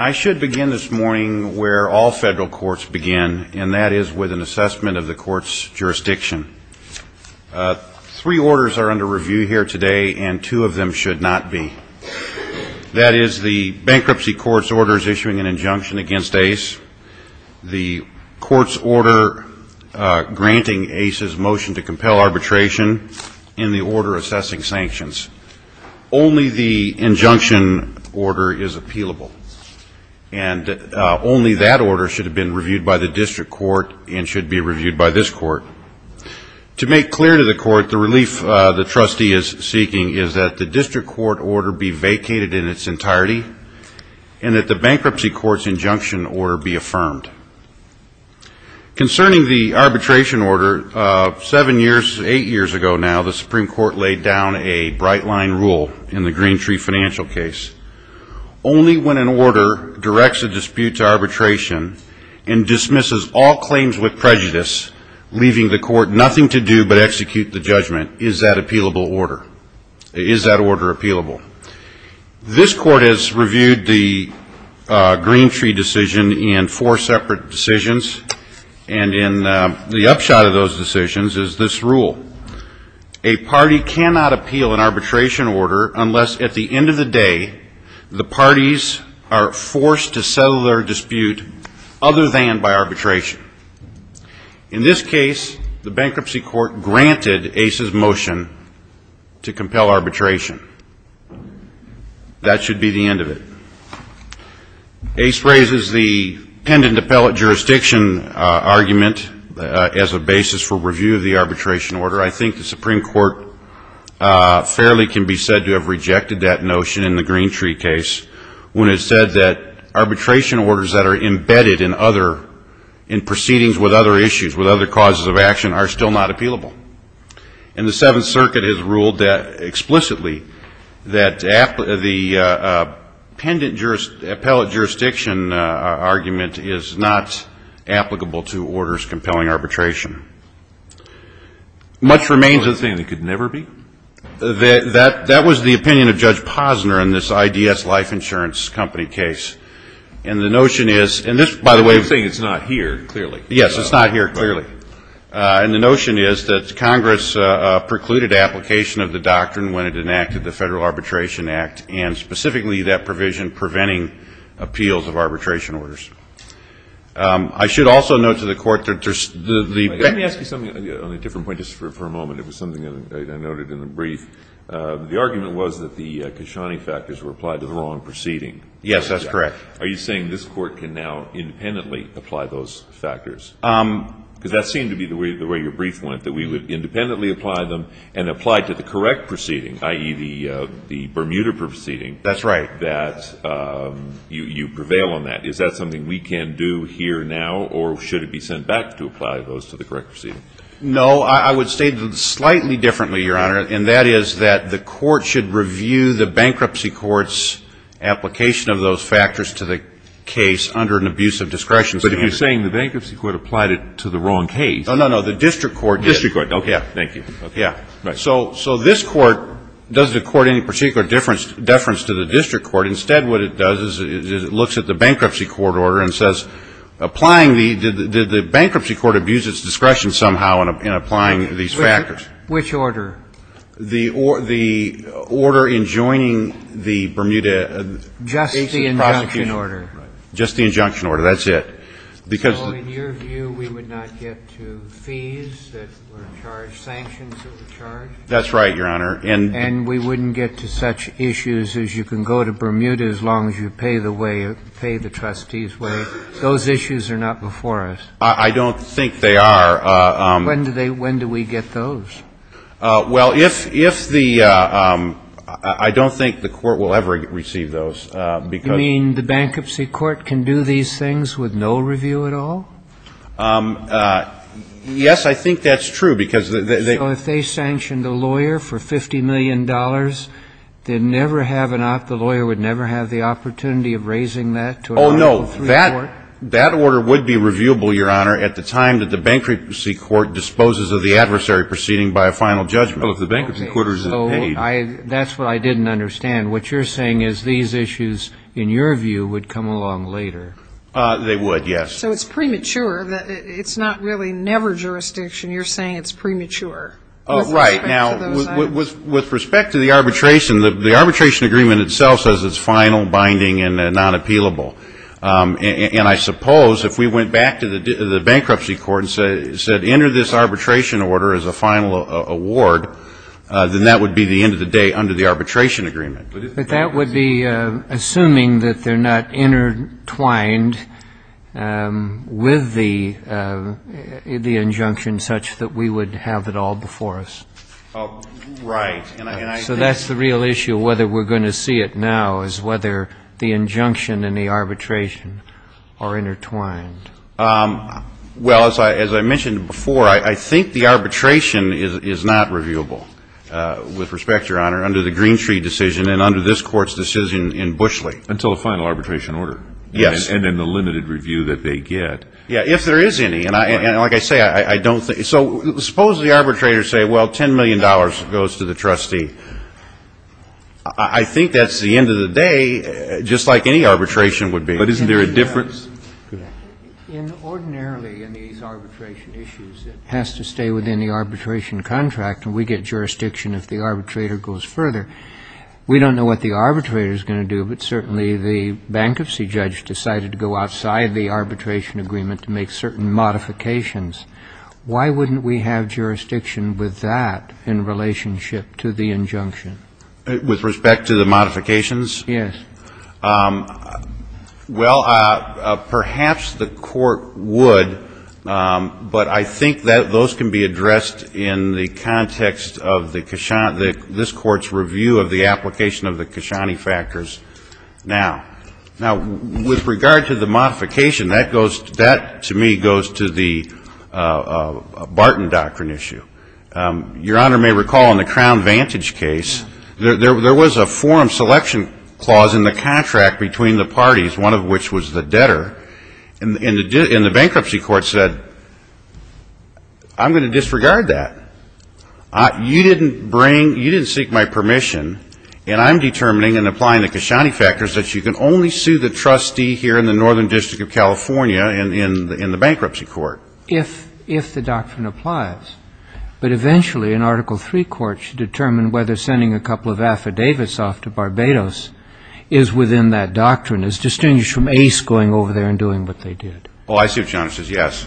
I should begin this morning where all federal courts begin, and that is with an assessment of the court's jurisdiction. Three orders are under review here today, and two of them should not be. That is, the Bankruptcy Court's order is issuing an injunction against Ace, the court's order granting Ace's motion to compel arbitration, and the order assessing sanctions. Only the injunction order is appealable, and only that order should have been reviewed by the district court and should be reviewed by this court. To make clear to the court, the relief the trustee is seeking is that the district court order be vacated in its entirety, and that the Bankruptcy Court's injunction order be affirmed. Concerning the arbitration order, seven years, eight years ago now, the Supreme Court laid down a bright line rule in the Green Tree Financial case. Only when an order directs a dispute to arbitration and dismisses all claims with prejudice, leaving the court nothing to do but execute the judgment, is that order appealable. This court has reviewed the Green Tree decision in four separate decisions, and in the upshot of those decisions is this rule. A party cannot appeal an arbitration order unless, at the end of the day, the parties are forced to settle their dispute other than by arbitration. In this case, the Bankruptcy Court granted Ace's motion to compel arbitration. That should be the end of it. Ace raises the pendant appellate jurisdiction argument as a basis for review of the arbitration order. I think the Supreme Court fairly can be said to have rejected that notion in the Green in proceedings with other issues, with other causes of action, are still not appealable. And the Seventh Circuit has ruled explicitly that the pendant appellate jurisdiction argument is not applicable to orders compelling arbitration. Much remains of the thing that could never be. That was the opinion of Judge Posner in this IDS Life Insurance Company case. And the notion is — and this, by the way — You're saying it's not here, clearly. Yes. It's not here, clearly. Right. And the notion is that Congress precluded application of the doctrine when it enacted the Federal Arbitration Act and, specifically, that provision preventing appeals of arbitration orders. I should also note to the Court that there's — Wait. Let me ask you something on a different point, just for a moment. It was something that I noted in the brief. The argument was that the Kashani factors were applied to the wrong proceeding. Yes. That's correct. Are you saying this Court can now independently apply those factors? Because that seemed to be the way your brief went, that we would independently apply them and apply to the correct proceeding, i.e., the Bermuda proceeding — That's right. — that you prevail on that. Is that something we can do here now, or should it be sent back to apply those to the correct proceeding? No. I would state them slightly differently, Your Honor, and that is that the Court should review the Bankruptcy Court's application of those factors to the case under an abuse of discretion. But if you're saying the Bankruptcy Court applied it to the wrong case — No, no, no. The District Court did. District Court. Okay. Thank you. Okay. So this Court doesn't accord any particular deference to the District Court. Instead, what it does is it looks at the Bankruptcy Court order and says, applying the — did the Bankruptcy Court abuse its discretion somehow in applying these factors? Which order? The order in joining the Bermuda case of prosecution. Just the injunction order. Right. Just the injunction order. That's it. Because — So in your view, we would not get to fees that were charged, sanctions that were charged? That's right, Your Honor. And — And we wouldn't get to such issues as you can go to Bermuda as long as you pay the way — pay the trustee's way. Those issues are not before us. I don't think they are. When do they — when do we get those? Well, if the — I don't think the Court will ever receive those, because — You mean the Bankruptcy Court can do these things with no review at all? Yes, I think that's true, because they — So if they sanctioned a lawyer for $50 million, they'd never have an — the lawyer would never have the opportunity of raising that to a — Oh, no. That — that order would be reviewable, Your Honor, at the time that the Bankruptcy Court disposes of the adversary proceeding by a final judgment. Well, if the Bankruptcy Court isn't paid — Okay. So I — that's what I didn't understand. What you're saying is these issues, in your view, would come along later. They would, yes. So it's premature. It's not really never jurisdiction. You're saying it's premature. Oh, right. Now, with respect to the arbitration, the arbitration agreement itself says it's final, binding, and non-appealable. And I suppose if we went back to the Bankruptcy Court and said, enter this arbitration order as a final award, then that would be the end of the day under the arbitration agreement. But that would be assuming that they're not intertwined with the — the injunction such that we would have it all before us. Oh, right. And I — So that's the real issue, whether we're going to see it now, is whether the injunction and the arbitration are intertwined. Well, as I mentioned before, I think the arbitration is not reviewable, with respect, Your Honor, under the Greentree decision and under this Court's decision in Bushley. Until a final arbitration order. Yes. And in the limited review that they get. Yeah, if there is any. And like I say, I don't think — so suppose the arbitrators say, well, $10 million goes to the trustee. I think that's the end of the day, just like any arbitration would be. But isn't there a difference? In ordinarily, in these arbitration issues, it has to stay within the arbitration contract, and we get jurisdiction if the arbitrator goes further. We don't know what the arbitrator is going to do, but certainly the bankruptcy judge decided to go outside the arbitration agreement to make certain modifications. And in the case of the Koshany case, what we have is a modification of the Koshany injunction. With respect to the modifications? Yes. Well, perhaps the Court would, but I think those can be addressed in the context of the Koshany — this Court's review of the application of the Koshany factors. Now, with regard to the modification, that to me goes to the Barton Doctrine issue. Your Honor may recall in the Crown Vantage case, there was a forum selection clause in the contract between the parties, one of which was the debtor, and the bankruptcy court said, I'm going to disregard that. You didn't bring — you didn't seek my permission, and I'm determining and the Koshany factors that you can only sue the trustee here in the Northern District of California in the bankruptcy court. If the doctrine applies. But eventually, an Article III court should determine whether sending a couple of affidavits off to Barbados is within that doctrine, as distinguished from Ace going over there and doing what they did. Oh, I see what Your Honor says, yes.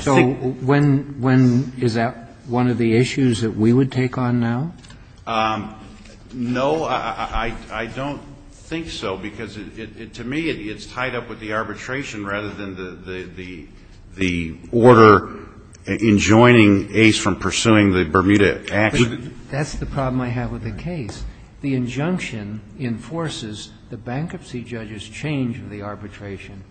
So when — is that one of the issues that we would take on now? No, I don't think so, because to me it's tied up with the arbitration rather than the order enjoining Ace from pursuing the Bermuda Act. That's the problem I have with the case. The injunction enforces the bankruptcy judge's change of the arbitration.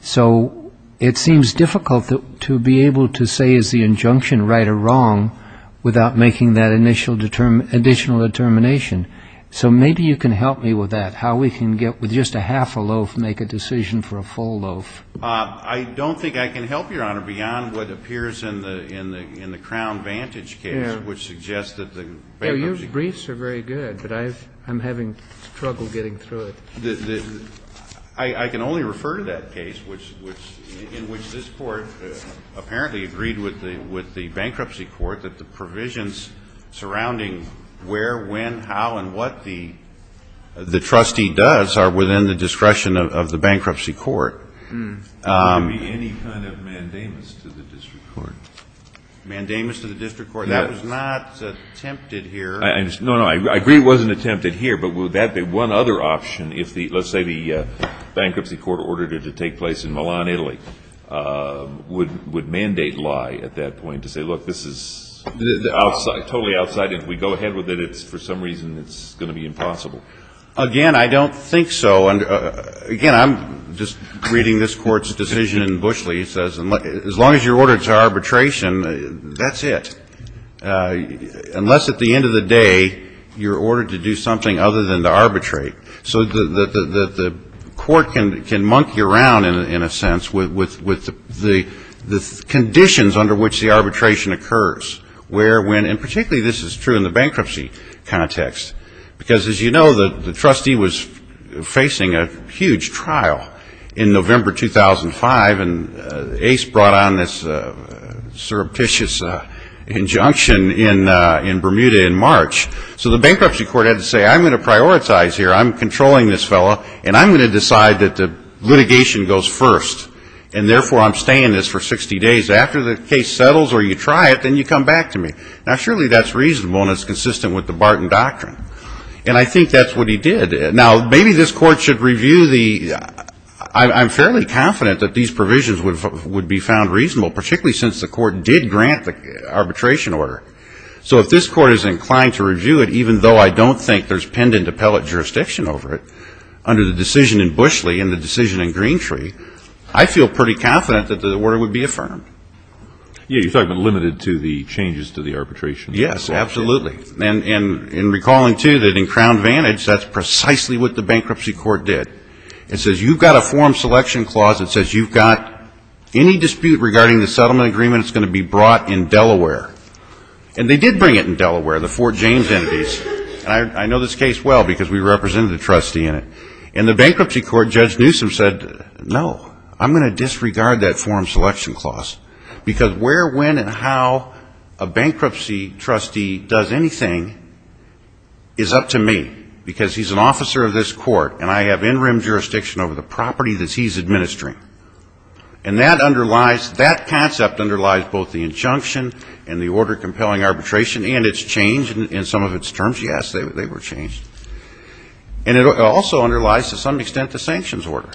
So it seems difficult to be able to say is the injunction right or wrong without making that initial additional determination. So maybe you can help me with that, how we can get — with just a half a loaf, make a decision for a full loaf. I don't think I can help, Your Honor, beyond what appears in the Crown Vantage case, which suggests that the bankruptcy — No, your briefs are very good, but I'm having trouble getting through it. I can only refer to that case which — in which this Court apparently agreed with the bankruptcy court that the provisions surrounding where, when, how, and what the trustee does are within the discretion of the bankruptcy court. Could there be any kind of mandamus to the district court? Mandamus to the district court? Yes. That was not attempted here. No, no. I agree it wasn't attempted here, but would that be one other option if, let's say, the bankruptcy court ordered it to take place in Milan, Italy, would mandate lie at that point to say, look, this is — Totally outside. If we go ahead with it, it's — for some reason, it's going to be impossible. Again, I don't think so. Again, I'm just reading this Court's decision in Bushley. It says as long as you're ordered to arbitration, that's it. Unless at the end of the day, you're ordered to do something other than to arbitrate. So the Court can monkey around, in a sense, with the conditions under which the arbitration occurs, where, when — and particularly this is true in the bankruptcy context, because as you know, the trustee was facing a huge trial in November 2005, and Ace brought on this surreptitious injunction in Bermuda in March. So the bankruptcy court had to say, I'm going to prioritize here. I'm controlling this fellow, and I'm going to decide that the litigation goes first. And therefore, I'm staying in this for 60 days. After the case settles, or you try it, then you come back to me. Now, surely that's reasonable, and it's consistent with the Barton doctrine. And I think that's what he did. Now, maybe this Court should review the — I'm fairly confident that these provisions would be found reasonable, particularly since the Court did grant the arbitration order. So if this Court is inclined to review it, even though I don't think there's pendent appellate jurisdiction over it, under the decision in Bushley and the decision in Greentree, I feel pretty confident that the order would be affirmed. Yeah, you're talking about limited to the changes to the arbitration. Yes, absolutely. And in recalling, too, that in Crown Vantage, that's precisely what the bankruptcy court did. It says, you've got a forum selection clause that says you've got any dispute regarding the settlement agreement that's going to be brought in Delaware. And they did bring it in Delaware, the Fort James entities. And I know this case well, because we represented a trustee in it. In the bankruptcy court, Judge Newsom said, no, I'm going to disregard that forum selection clause, because where, when, and how a bankruptcy trustee does anything is up to me. Because he's an officer of this court, and I have in-rim jurisdiction over the property that he's administering. And that underlies, that concept underlies both the injunction and the order compelling arbitration and its change in some of its terms. Yes, they were changed. And it also underlies, to some extent, the sanctions order.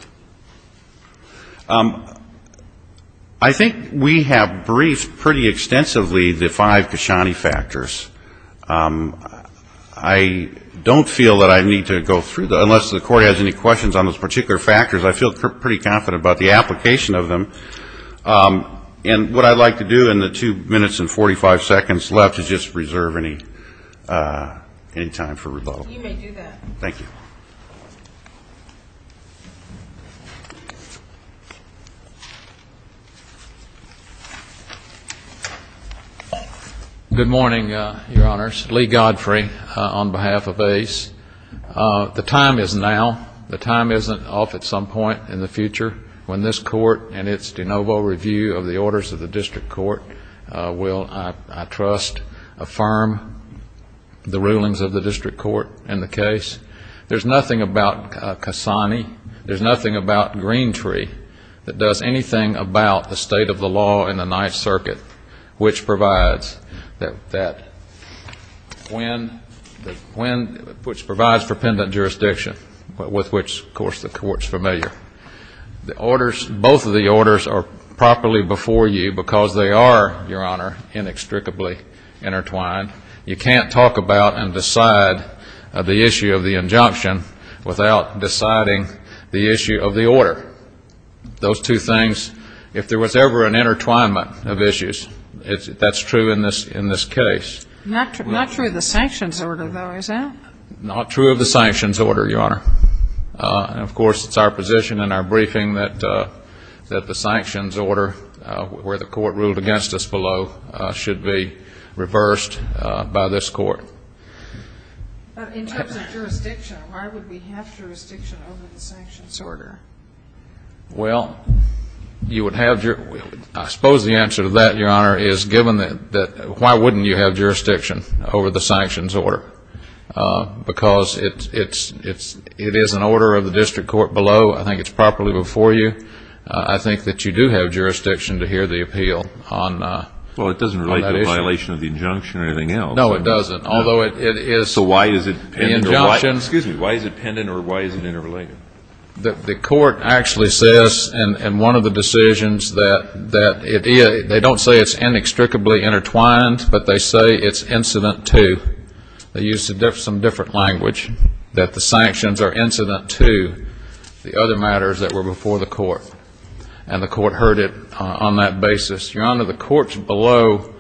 I think we have briefed pretty extensively the five Kashani factors. I don't feel that I need to go through them, unless the court has any questions on those particular factors. I feel pretty confident about the application of them. And what I'd like to do in the two minutes and 45 seconds left is just reserve any time for rebuttal. You may do that. Thank you. Good morning, Your Honors. Lee Godfrey, on behalf of ACE. The time is now. The time isn't off at some point in the future. When this court and its de novo review of the orders of the district court will, I trust, affirm the rulings of the district court in the case. orders of the district court. There's nothing about Kashani. There's nothing about Greentree that does anything about the state of the law in the Ninth Circuit, which provides for pendent jurisdiction, with which, of course, the court's familiar. Both of the orders are properly before you, because they are, Your Honor, inextricably intertwined. You can't talk about and decide the issue of the injunction. without deciding the issue of the order. Those two things, if there was ever an intertwinement of issues, that's true in this case. Not true of the sanctions order, though, is that? Not true of the sanctions order, Your Honor. Of course, it's our position in our briefing that the sanctions order, where the court ruled against us below, should be reversed by this court. In terms of jurisdiction, why would we have jurisdiction over the sanctions order? Well, I suppose the answer to that, Your Honor, is given that, why wouldn't you have jurisdiction over the sanctions order? Because it is an order of the district court below. I think it's properly before you. I think that you do have jurisdiction to hear the appeal on that issue. Well, it doesn't relate to a violation of the injunction or anything else. No, it doesn't. So why is it pending? Excuse me, why is it pending or why is it interrelated? The court actually says in one of the decisions that it is. They don't say it's inextricably intertwined, but they say it's incident to. They use some different language, that the sanctions are incident to the other matters that were before the court. And the court heard it on that basis. Your Honor, the courts below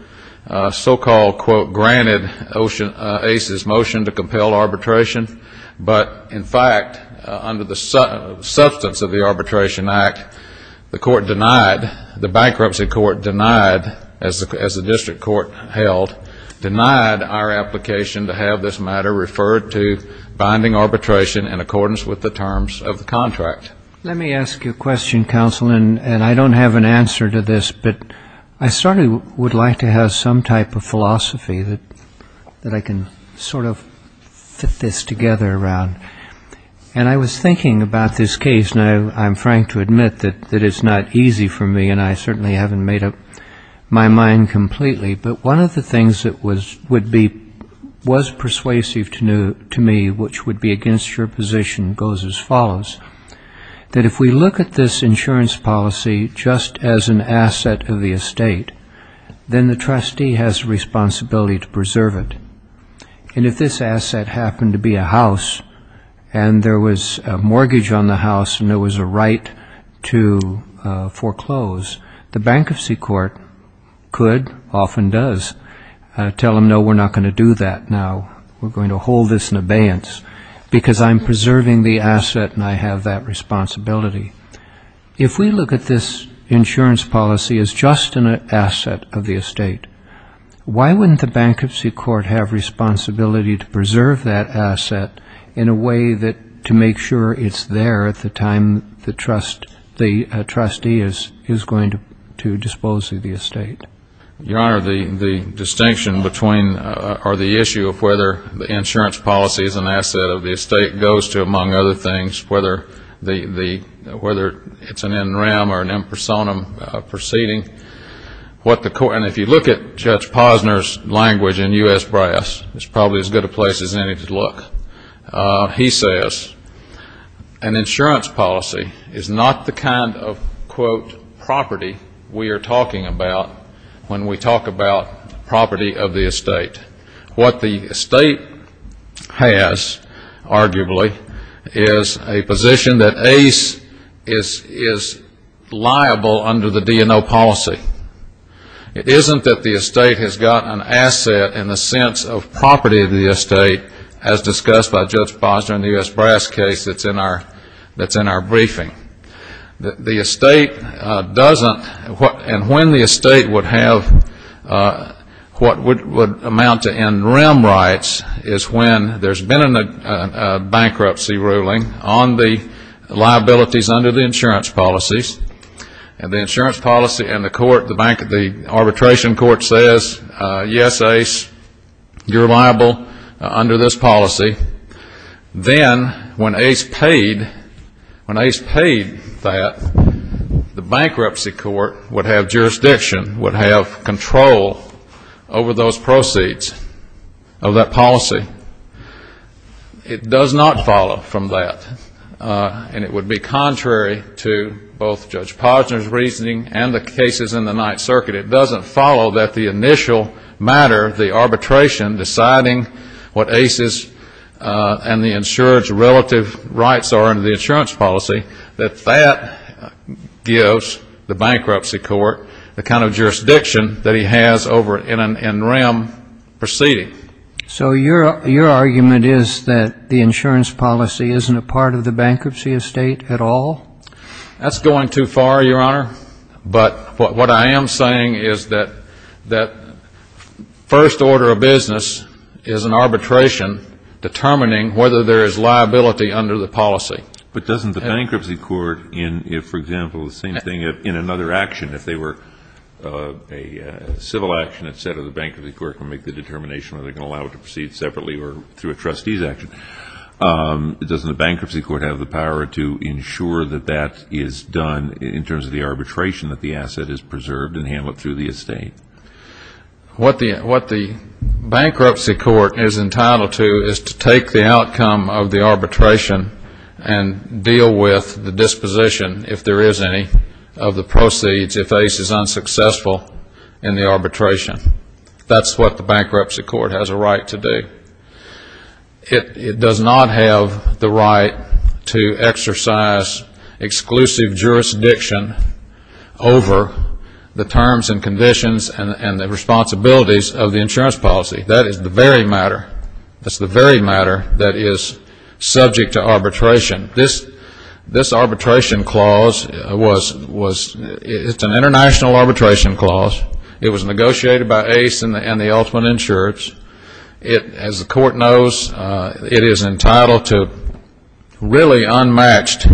so-called, quote, granted ocean-based motion to compel arbitration. But, in fact, under the substance of the Arbitration Act, the court denied, the bankruptcy court denied, as the district court held, denied our application to have this matter referred to binding arbitration in accordance with the terms of the contract. Let me ask you a question, counsel, and I don't have an answer to this. can use. I can sort of fit this together around. And I was thinking about this case. Now, I'm trying to admit that it's not easy for me, and I certainly haven't made up my mind completely. But one of the things that was persuasive to me, which would be against your position, goes as follows. That if we look at this insurance policy just as an asset of the estate, then the trustee has a responsibility to preserve it. And if this asset happened to be a house, and there was a mortgage on the house, and there was a right to foreclose, the bankruptcy court could, often does, tell them, no, we're not going to do that now. We're going to hold this in abeyance, because I'm preserving the asset, and I have that responsibility. If we look at this insurance policy as just an asset of the estate, why wouldn't the bankruptcy court have a responsibility to preserve that asset in a way that, to make sure it's there at the time the trustee is going to dispose of the estate? Your Honor, the distinction between, or the issue of whether the insurance policy is an asset of the estate goes to, among other things, whether it's an NREM or an impersonum proceeding. And if you look at Judge Posner's language in U.S. drafts, it's probably as good a place as any to look. He says an insurance policy is not the kind of, quote, property we are talking about when we talk about property of the estate. What the estate has, arguably, is a position that is liable under the DNO policy. It isn't that the estate has got an asset in the sense of property of the estate, as discussed by Judge Posner in the U.S. brass case that's in our briefing. The estate doesn't, and when the estate would have what would amount to NREM rights is when there's been a bankruptcy ruling on the liabilities under the insurance policies, and the insurance policy and the court, the arbitration court says, yes, Ace, you're liable under this policy, then when Ace paid that, the bankruptcy court would have jurisdiction, would have control over those proceeds of that policy. It does not follow from that. And it would be contrary to both Judge Posner's reasoning and the case in the Ninth Circuit. It doesn't follow that the initial matter, the arbitration deciding what Ace's and the insurer's relative rights are under the insurance policy, that that gives the bankruptcy court the kind of jurisdiction that he has over NREM proceeding. So your argument is that the insurance policy isn't a part of the bankruptcy estate at all? That's going too far, Your Honor, but what I am saying is that first order of business is an arbitration determining whether there is liability under the policy. But doesn't the bankruptcy court, if, for example, the same thing in another action, if they were a civil action, et cetera, the bankruptcy court can make the determination whether they can allow it to proceed separately or through a trustee's action. Doesn't the bankruptcy court have the power to ensure that that is done in terms of the arbitration that the asset is preserved and handled through the estate? What the bankruptcy court is entitled to is to take the outcome of the arbitration and deal with the disposition, if there is any, of the proceeds if Ace is unsuccessful in the arbitration. That's what the bankruptcy court has a right to do. It does not have the right to exercise exclusive jurisdiction over the terms and conditions and the responsibilities of the insurance policy. That is the very matter that is subject to arbitration. This arbitration clause was an international arbitration clause. It was negotiated by Ace and the ultimate insurers. As the court knows, it is entitled to really unmatched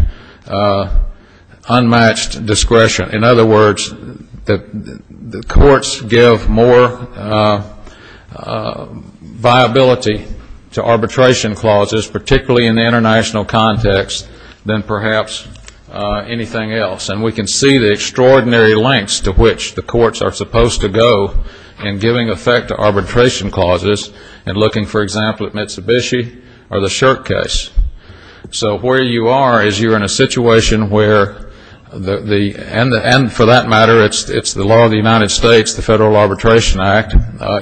discretion. In other words, the courts give more viability to arbitration clauses, particularly in the international context, than perhaps anything else. And we can see the extraordinary lengths to which the courts are using arbitration clauses in looking, for example, at Mitsubishi or the Shirk case. So where you are is you're in a situation where the, and for that matter, it's the law of the United States, the Federal Arbitration Act.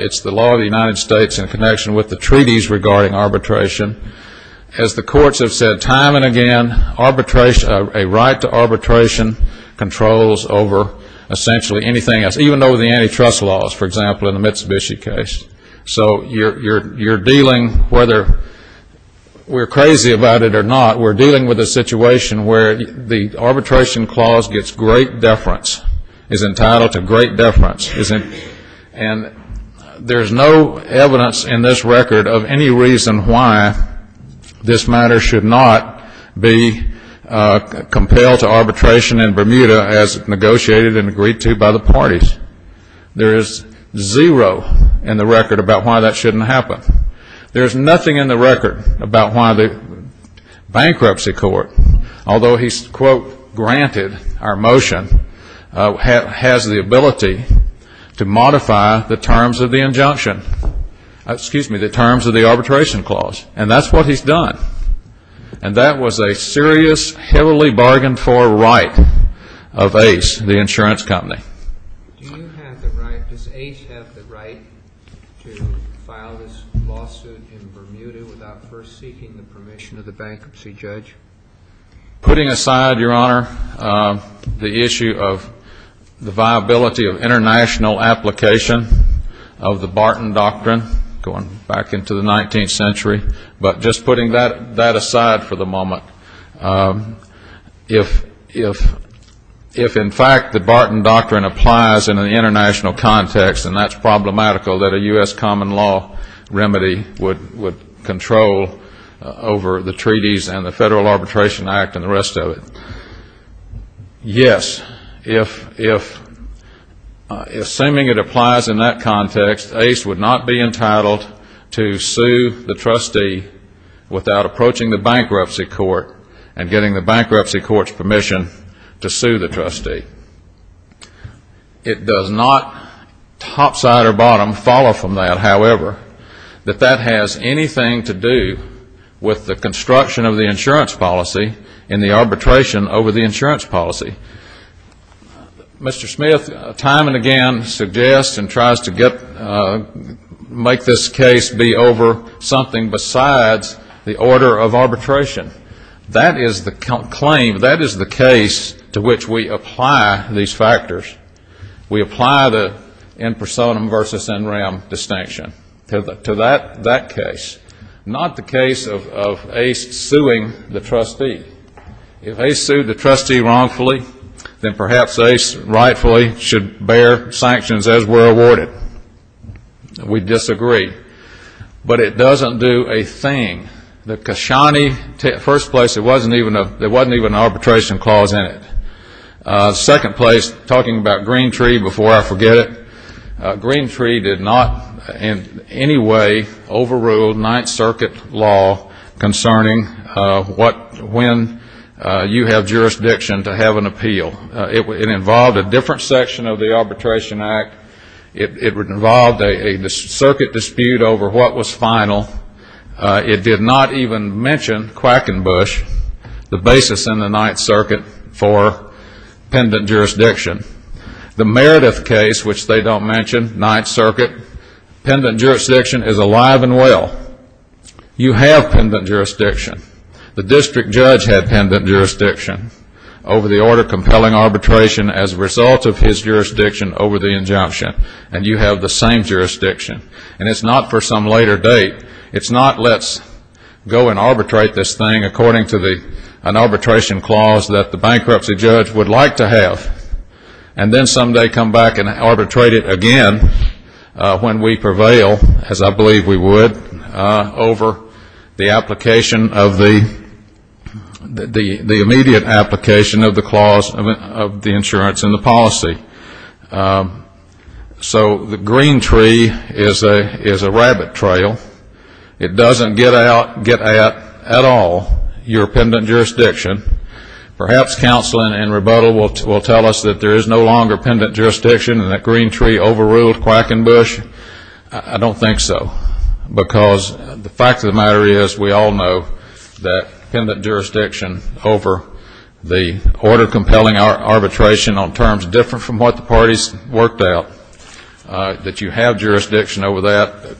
It's the law of the United States in connection with the treaties regarding arbitration. As the courts have said time and again, arbitration, a right to arbitration, is a right to be used. So you're dealing, whether we're crazy about it or not, we're dealing with a situation where the arbitration clause gets great deference, is entitled to great deference. And there's no evidence in this record of any reason why this matter should not be compelled to arbitration in Bermuda as negotiated and agreed to by the parties. There is zero in the record about why that shouldn't happen. There's nothing in the record about why the bankruptcy court, although he's, quote, granted our motion, has the ability to modify the terms of the injunction, excuse me, the terms of the arbitration clause. And that's what he's done. And that was a serious, heavily bargained for right of Ace, the insurance company. Do you have the right, does Ace have the right to file this lawsuit in Bermuda without first seeking the permission of the bankruptcy judge? Putting aside, Your Honor, the issue of the viability of international application of the Barton Doctrine, going back into the 19th century, but just putting that aside for the moment. If, in fact, the Barton Doctrine applies in an international context, and that's problematical, that a U.S. common law remedy would control over the treaties and the Federal Arbitration Act and the rest of it. Yes. If, assuming it applies in that context, Ace would not be entitled to sue the trustee without approaching the bankruptcy court and getting the bankruptcy court's permission to sue the trustee. It does not, topside or bottom, follow from that, however, that that has anything to do with the construction of the insurance policy and the arbitration over the insurance policy. Mr. Smith, time and again, suggests and tries to get, make this case be over something besides the order of arbitration that is the claim, that is the case to which we apply these factors. We apply the impersonum versus in rem distinction to that case, not the case of Ace suing the trustee. If Ace sued the trustee wrongfully, then perhaps Ace rightfully should bear sanctions as were awarded. We disagree. But it doesn't do a thing. The Kashani, first place, there wasn't even an arbitration clause in it. Second place, talking about Green Tree before I forget it, Green Tree did not in any way overrule Ninth Circuit law concerning what, when you have jurisdiction to have an appeal. It involved a different section of the Arbitration Act. It involved a circuit dispute over what was final. It did not even mention Quackenbush, the basis in the Ninth Circuit for pendent jurisdiction. The Meredith case, which they don't mention, Ninth Circuit, pendent jurisdiction is alive and well. You have pendent jurisdiction. The district judge had pendent jurisdiction over the order of compelling arbitration as a result of his jurisdiction over the injunction. And you have the same jurisdiction. And it's not for some later date. It's not let's go and arbitrate this thing according to an arbitration clause that the bankruptcy judge would like to have and then someday come back and arbitrate it again when we get to the end of the insurance and the policy. So the Green Tree is a rabbit trail. It doesn't get at all your pendent jurisdiction. Perhaps counseling and rebuttal will tell us that there is no longer pendent jurisdiction and that Green Tree overruled Quackenbush. I don't think so because the fact of the matter is we all know that if you have that pendent jurisdiction over the order of compelling arbitration on terms different from what the parties worked out, that you have jurisdiction over that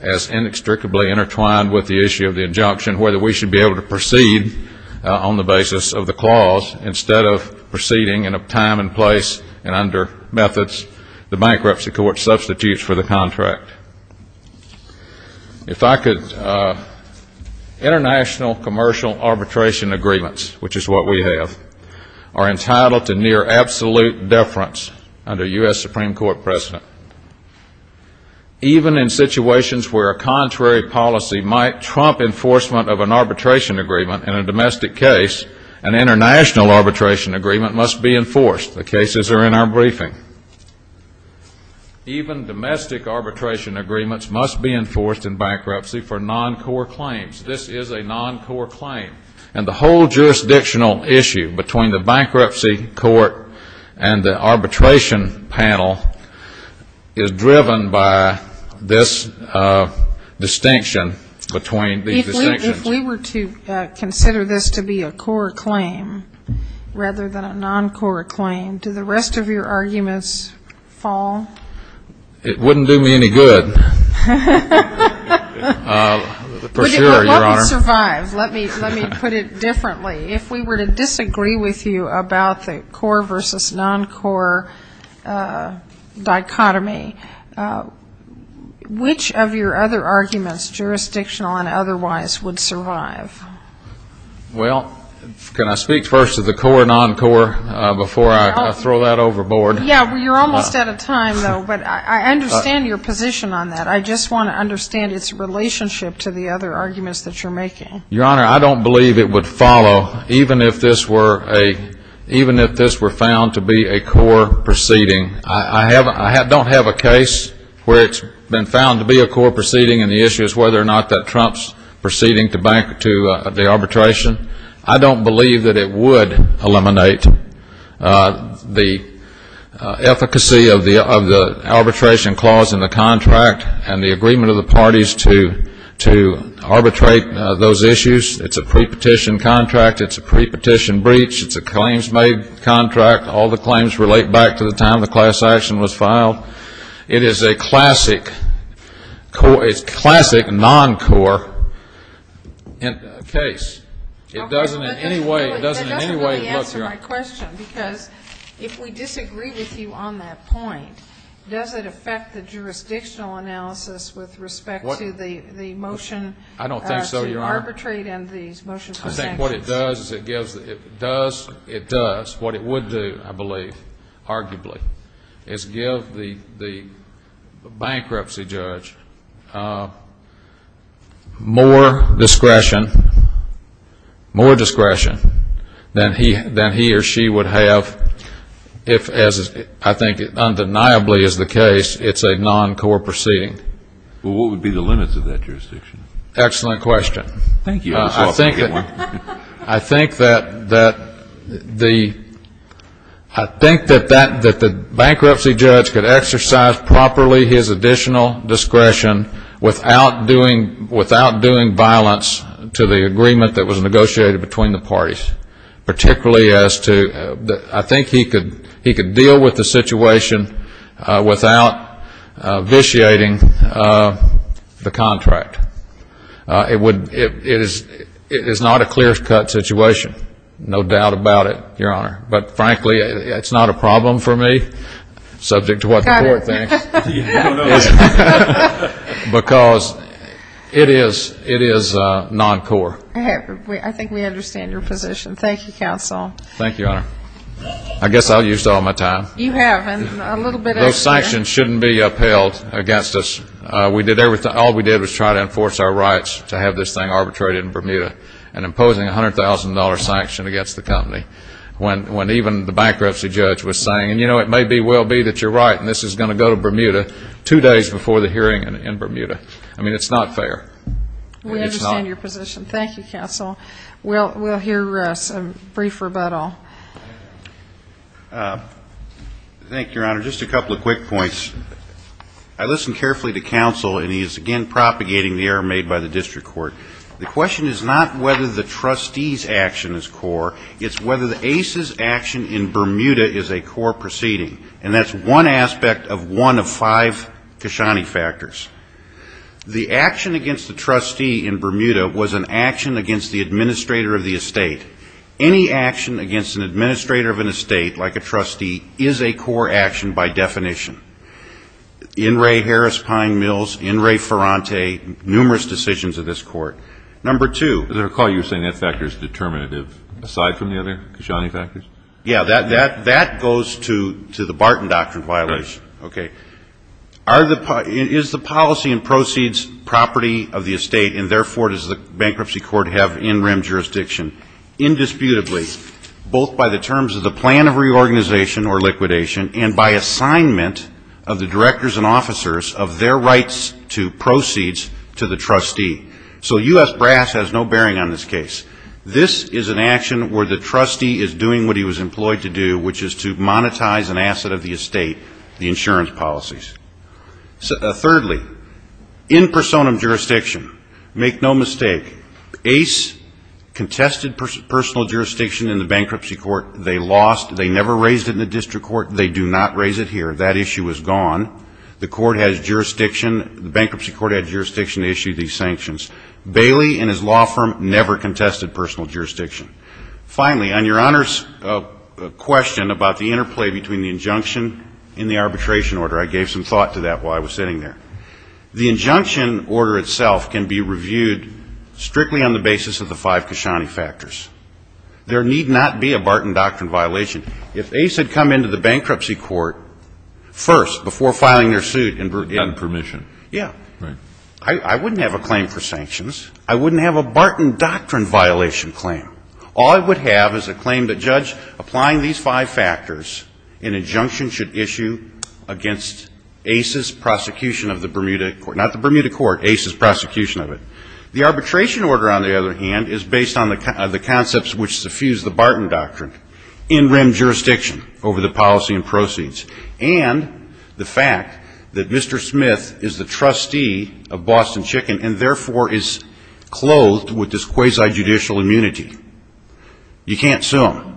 as inextricably intertwined with the issue of the injunction, whether we should be able to proceed on the basis of the clause instead of proceeding in a time and place and under methods, the bankruptcy court substitutes for the contract. If I could, international commercial arbitration agreements, which is what we have, are entitled to near absolute deference under U.S. Supreme Court precedent. Even in situations where a contrary policy might trump enforcement of an arbitration agreement in a domestic case, an international arbitration agreement must be enforced. The cases are in our briefing. Even domestic arbitration agreements must be enforced in bankruptcy for non-core claims. This is a non-core claim. And the whole jurisdictional issue between the bankruptcy court and the arbitration panel is driven by this distinction between these distinctions. If we were to consider this to be a core claim rather than a core non-core claim, would your arguments fall? It wouldn't do me any good, for sure, Your Honor. Let me survive. Let me put it differently. If we were to disagree with you about the core versus non-core dichotomy, which of your other arguments, jurisdictional and otherwise, would survive? Well, can I speak first to the core non-core before I throw that overboard? Yeah, you're almost out of time, though, but I understand your position on that. I just want to understand its relationship to the other arguments that you're making. Your Honor, I don't believe it would follow, even if this were found to be a core proceeding. I don't have a case where it's been found to be a core proceeding, and the issue is whether or not that Trump's proceeding to back to the arbitration. I don't believe that it would eliminate the efficacy of the arbitration clause in the contract and the agreement of the parties to arbitrate those issues. It's a pre-petition contract. It's a pre-petition breach. It's a claims-made contract. All the claims relate back to the time the class action was filed. It is a classic non-core case. Okay, but that doesn't really answer my question, because if we disagree with you on that point, does it affect the jurisdictional analysis with respect to the motion to arbitrate and the motion for sanctions? I think what it does, what it would do, I believe, arguably, is give the bankruptcy judge the ability to make a decision more discretion, more discretion, than he or she would have if, as I think undeniably is the case, it's a non-core proceeding. Well, what would be the limits of that jurisdiction? Excellent question. Thank you. I think that the bankruptcy judge could exercise properly his additional discretion without doing violence to the agreement that was negotiated between the parties, particularly as to, I think he could deal with the situation without vitiating the contract. It is not a clear-cut situation, no doubt about it, Your Honor. But frankly, it's not a problem for me, subject to what the court thinks. Because it is non-core. I think we understand your position. Thank you, counsel. Thank you, Your Honor. I guess I'll use all my time. You have. Those sanctions shouldn't be upheld against us. All we did was try to enforce our rights to have this thing arbitrated in Bermuda, and imposing a $100,000 sanction against the company, when even the bankruptcy judge was saying, you know, it may well be that you're right, and this is going to go to Bermuda two days before the hearing in Bermuda. I mean, it's not fair. We understand your position. Thank you, counsel. We'll hear a brief rebuttal. Thank you, Your Honor. Just a couple of quick points. I listened carefully to counsel, and he is again propagating the error made by the district court. The question is not whether the trustee's action is core, it's whether the ACE's action in Bermuda is a core proceeding, and that's one aspect of one of five Kashani factors. The action against the trustee in Bermuda was an action against the administrator of the estate. Any action against an administrator of an estate, like a trustee, is a core action by definition. N. Ray Harris, Pine Mills, N. Ray Ferrante, numerous decisions of this court. Number two. I recall you saying that factor is determinative, aside from the other Kashani factors? Yeah, that goes to the Barton Doctrine violation. Is the policy and proceeds property of the estate, and therefore does the bankruptcy court have in rem jurisdiction? Indisputably, both by the terms of the plan of reorganization or liquidation, and by assignment of the directors and officers of their rights to proceeds to the trustee. So U.S. brass has no bearing on this case. This is an action where the trustee is doing what he was employed to do, which is to monetize an asset of the estate, the insurance policies. Thirdly, in personam jurisdiction, make no mistake, Ace contested personal jurisdiction in the bankruptcy court. They lost. They never raised it in the district court. They do not raise it here. That issue is gone. The bankruptcy court has jurisdiction to issue these five factors. The injunction order itself can be reviewed strictly on the basis of the five Kashani factors. There need not be a Barton Doctrine violation. If Ace had come into the bankruptcy court first before filing their suit, I wouldn't have a claim for sanctions. I wouldn't have a Barton Doctrine violation claim. All I would have is a claim that judge applying these five factors, an injunction should issue against Ace's prosecution of the Bermuda court, not the Bermuda court, Ace's prosecution of it. The arbitration order, on the other hand, is based on the concepts which suffuse the Barton Doctrine. And the fact that Mr. Smith is the trustee of Boston Chicken and therefore is clothed with this quasi-judicial immunity. You can't sue him.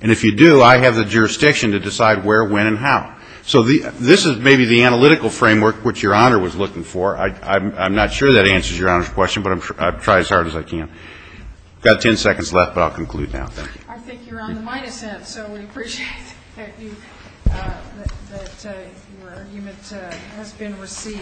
And if you do, I have the jurisdiction to decide where, when, and how. So this is maybe the analytical framework which your Honor was looking for. I'm not sure that answers your Honor's question, but I'll try as hard as I can. I've got 10 seconds left, but I'll conclude now. Thank you. I think you're on the minus end, so we appreciate that your argument has been received.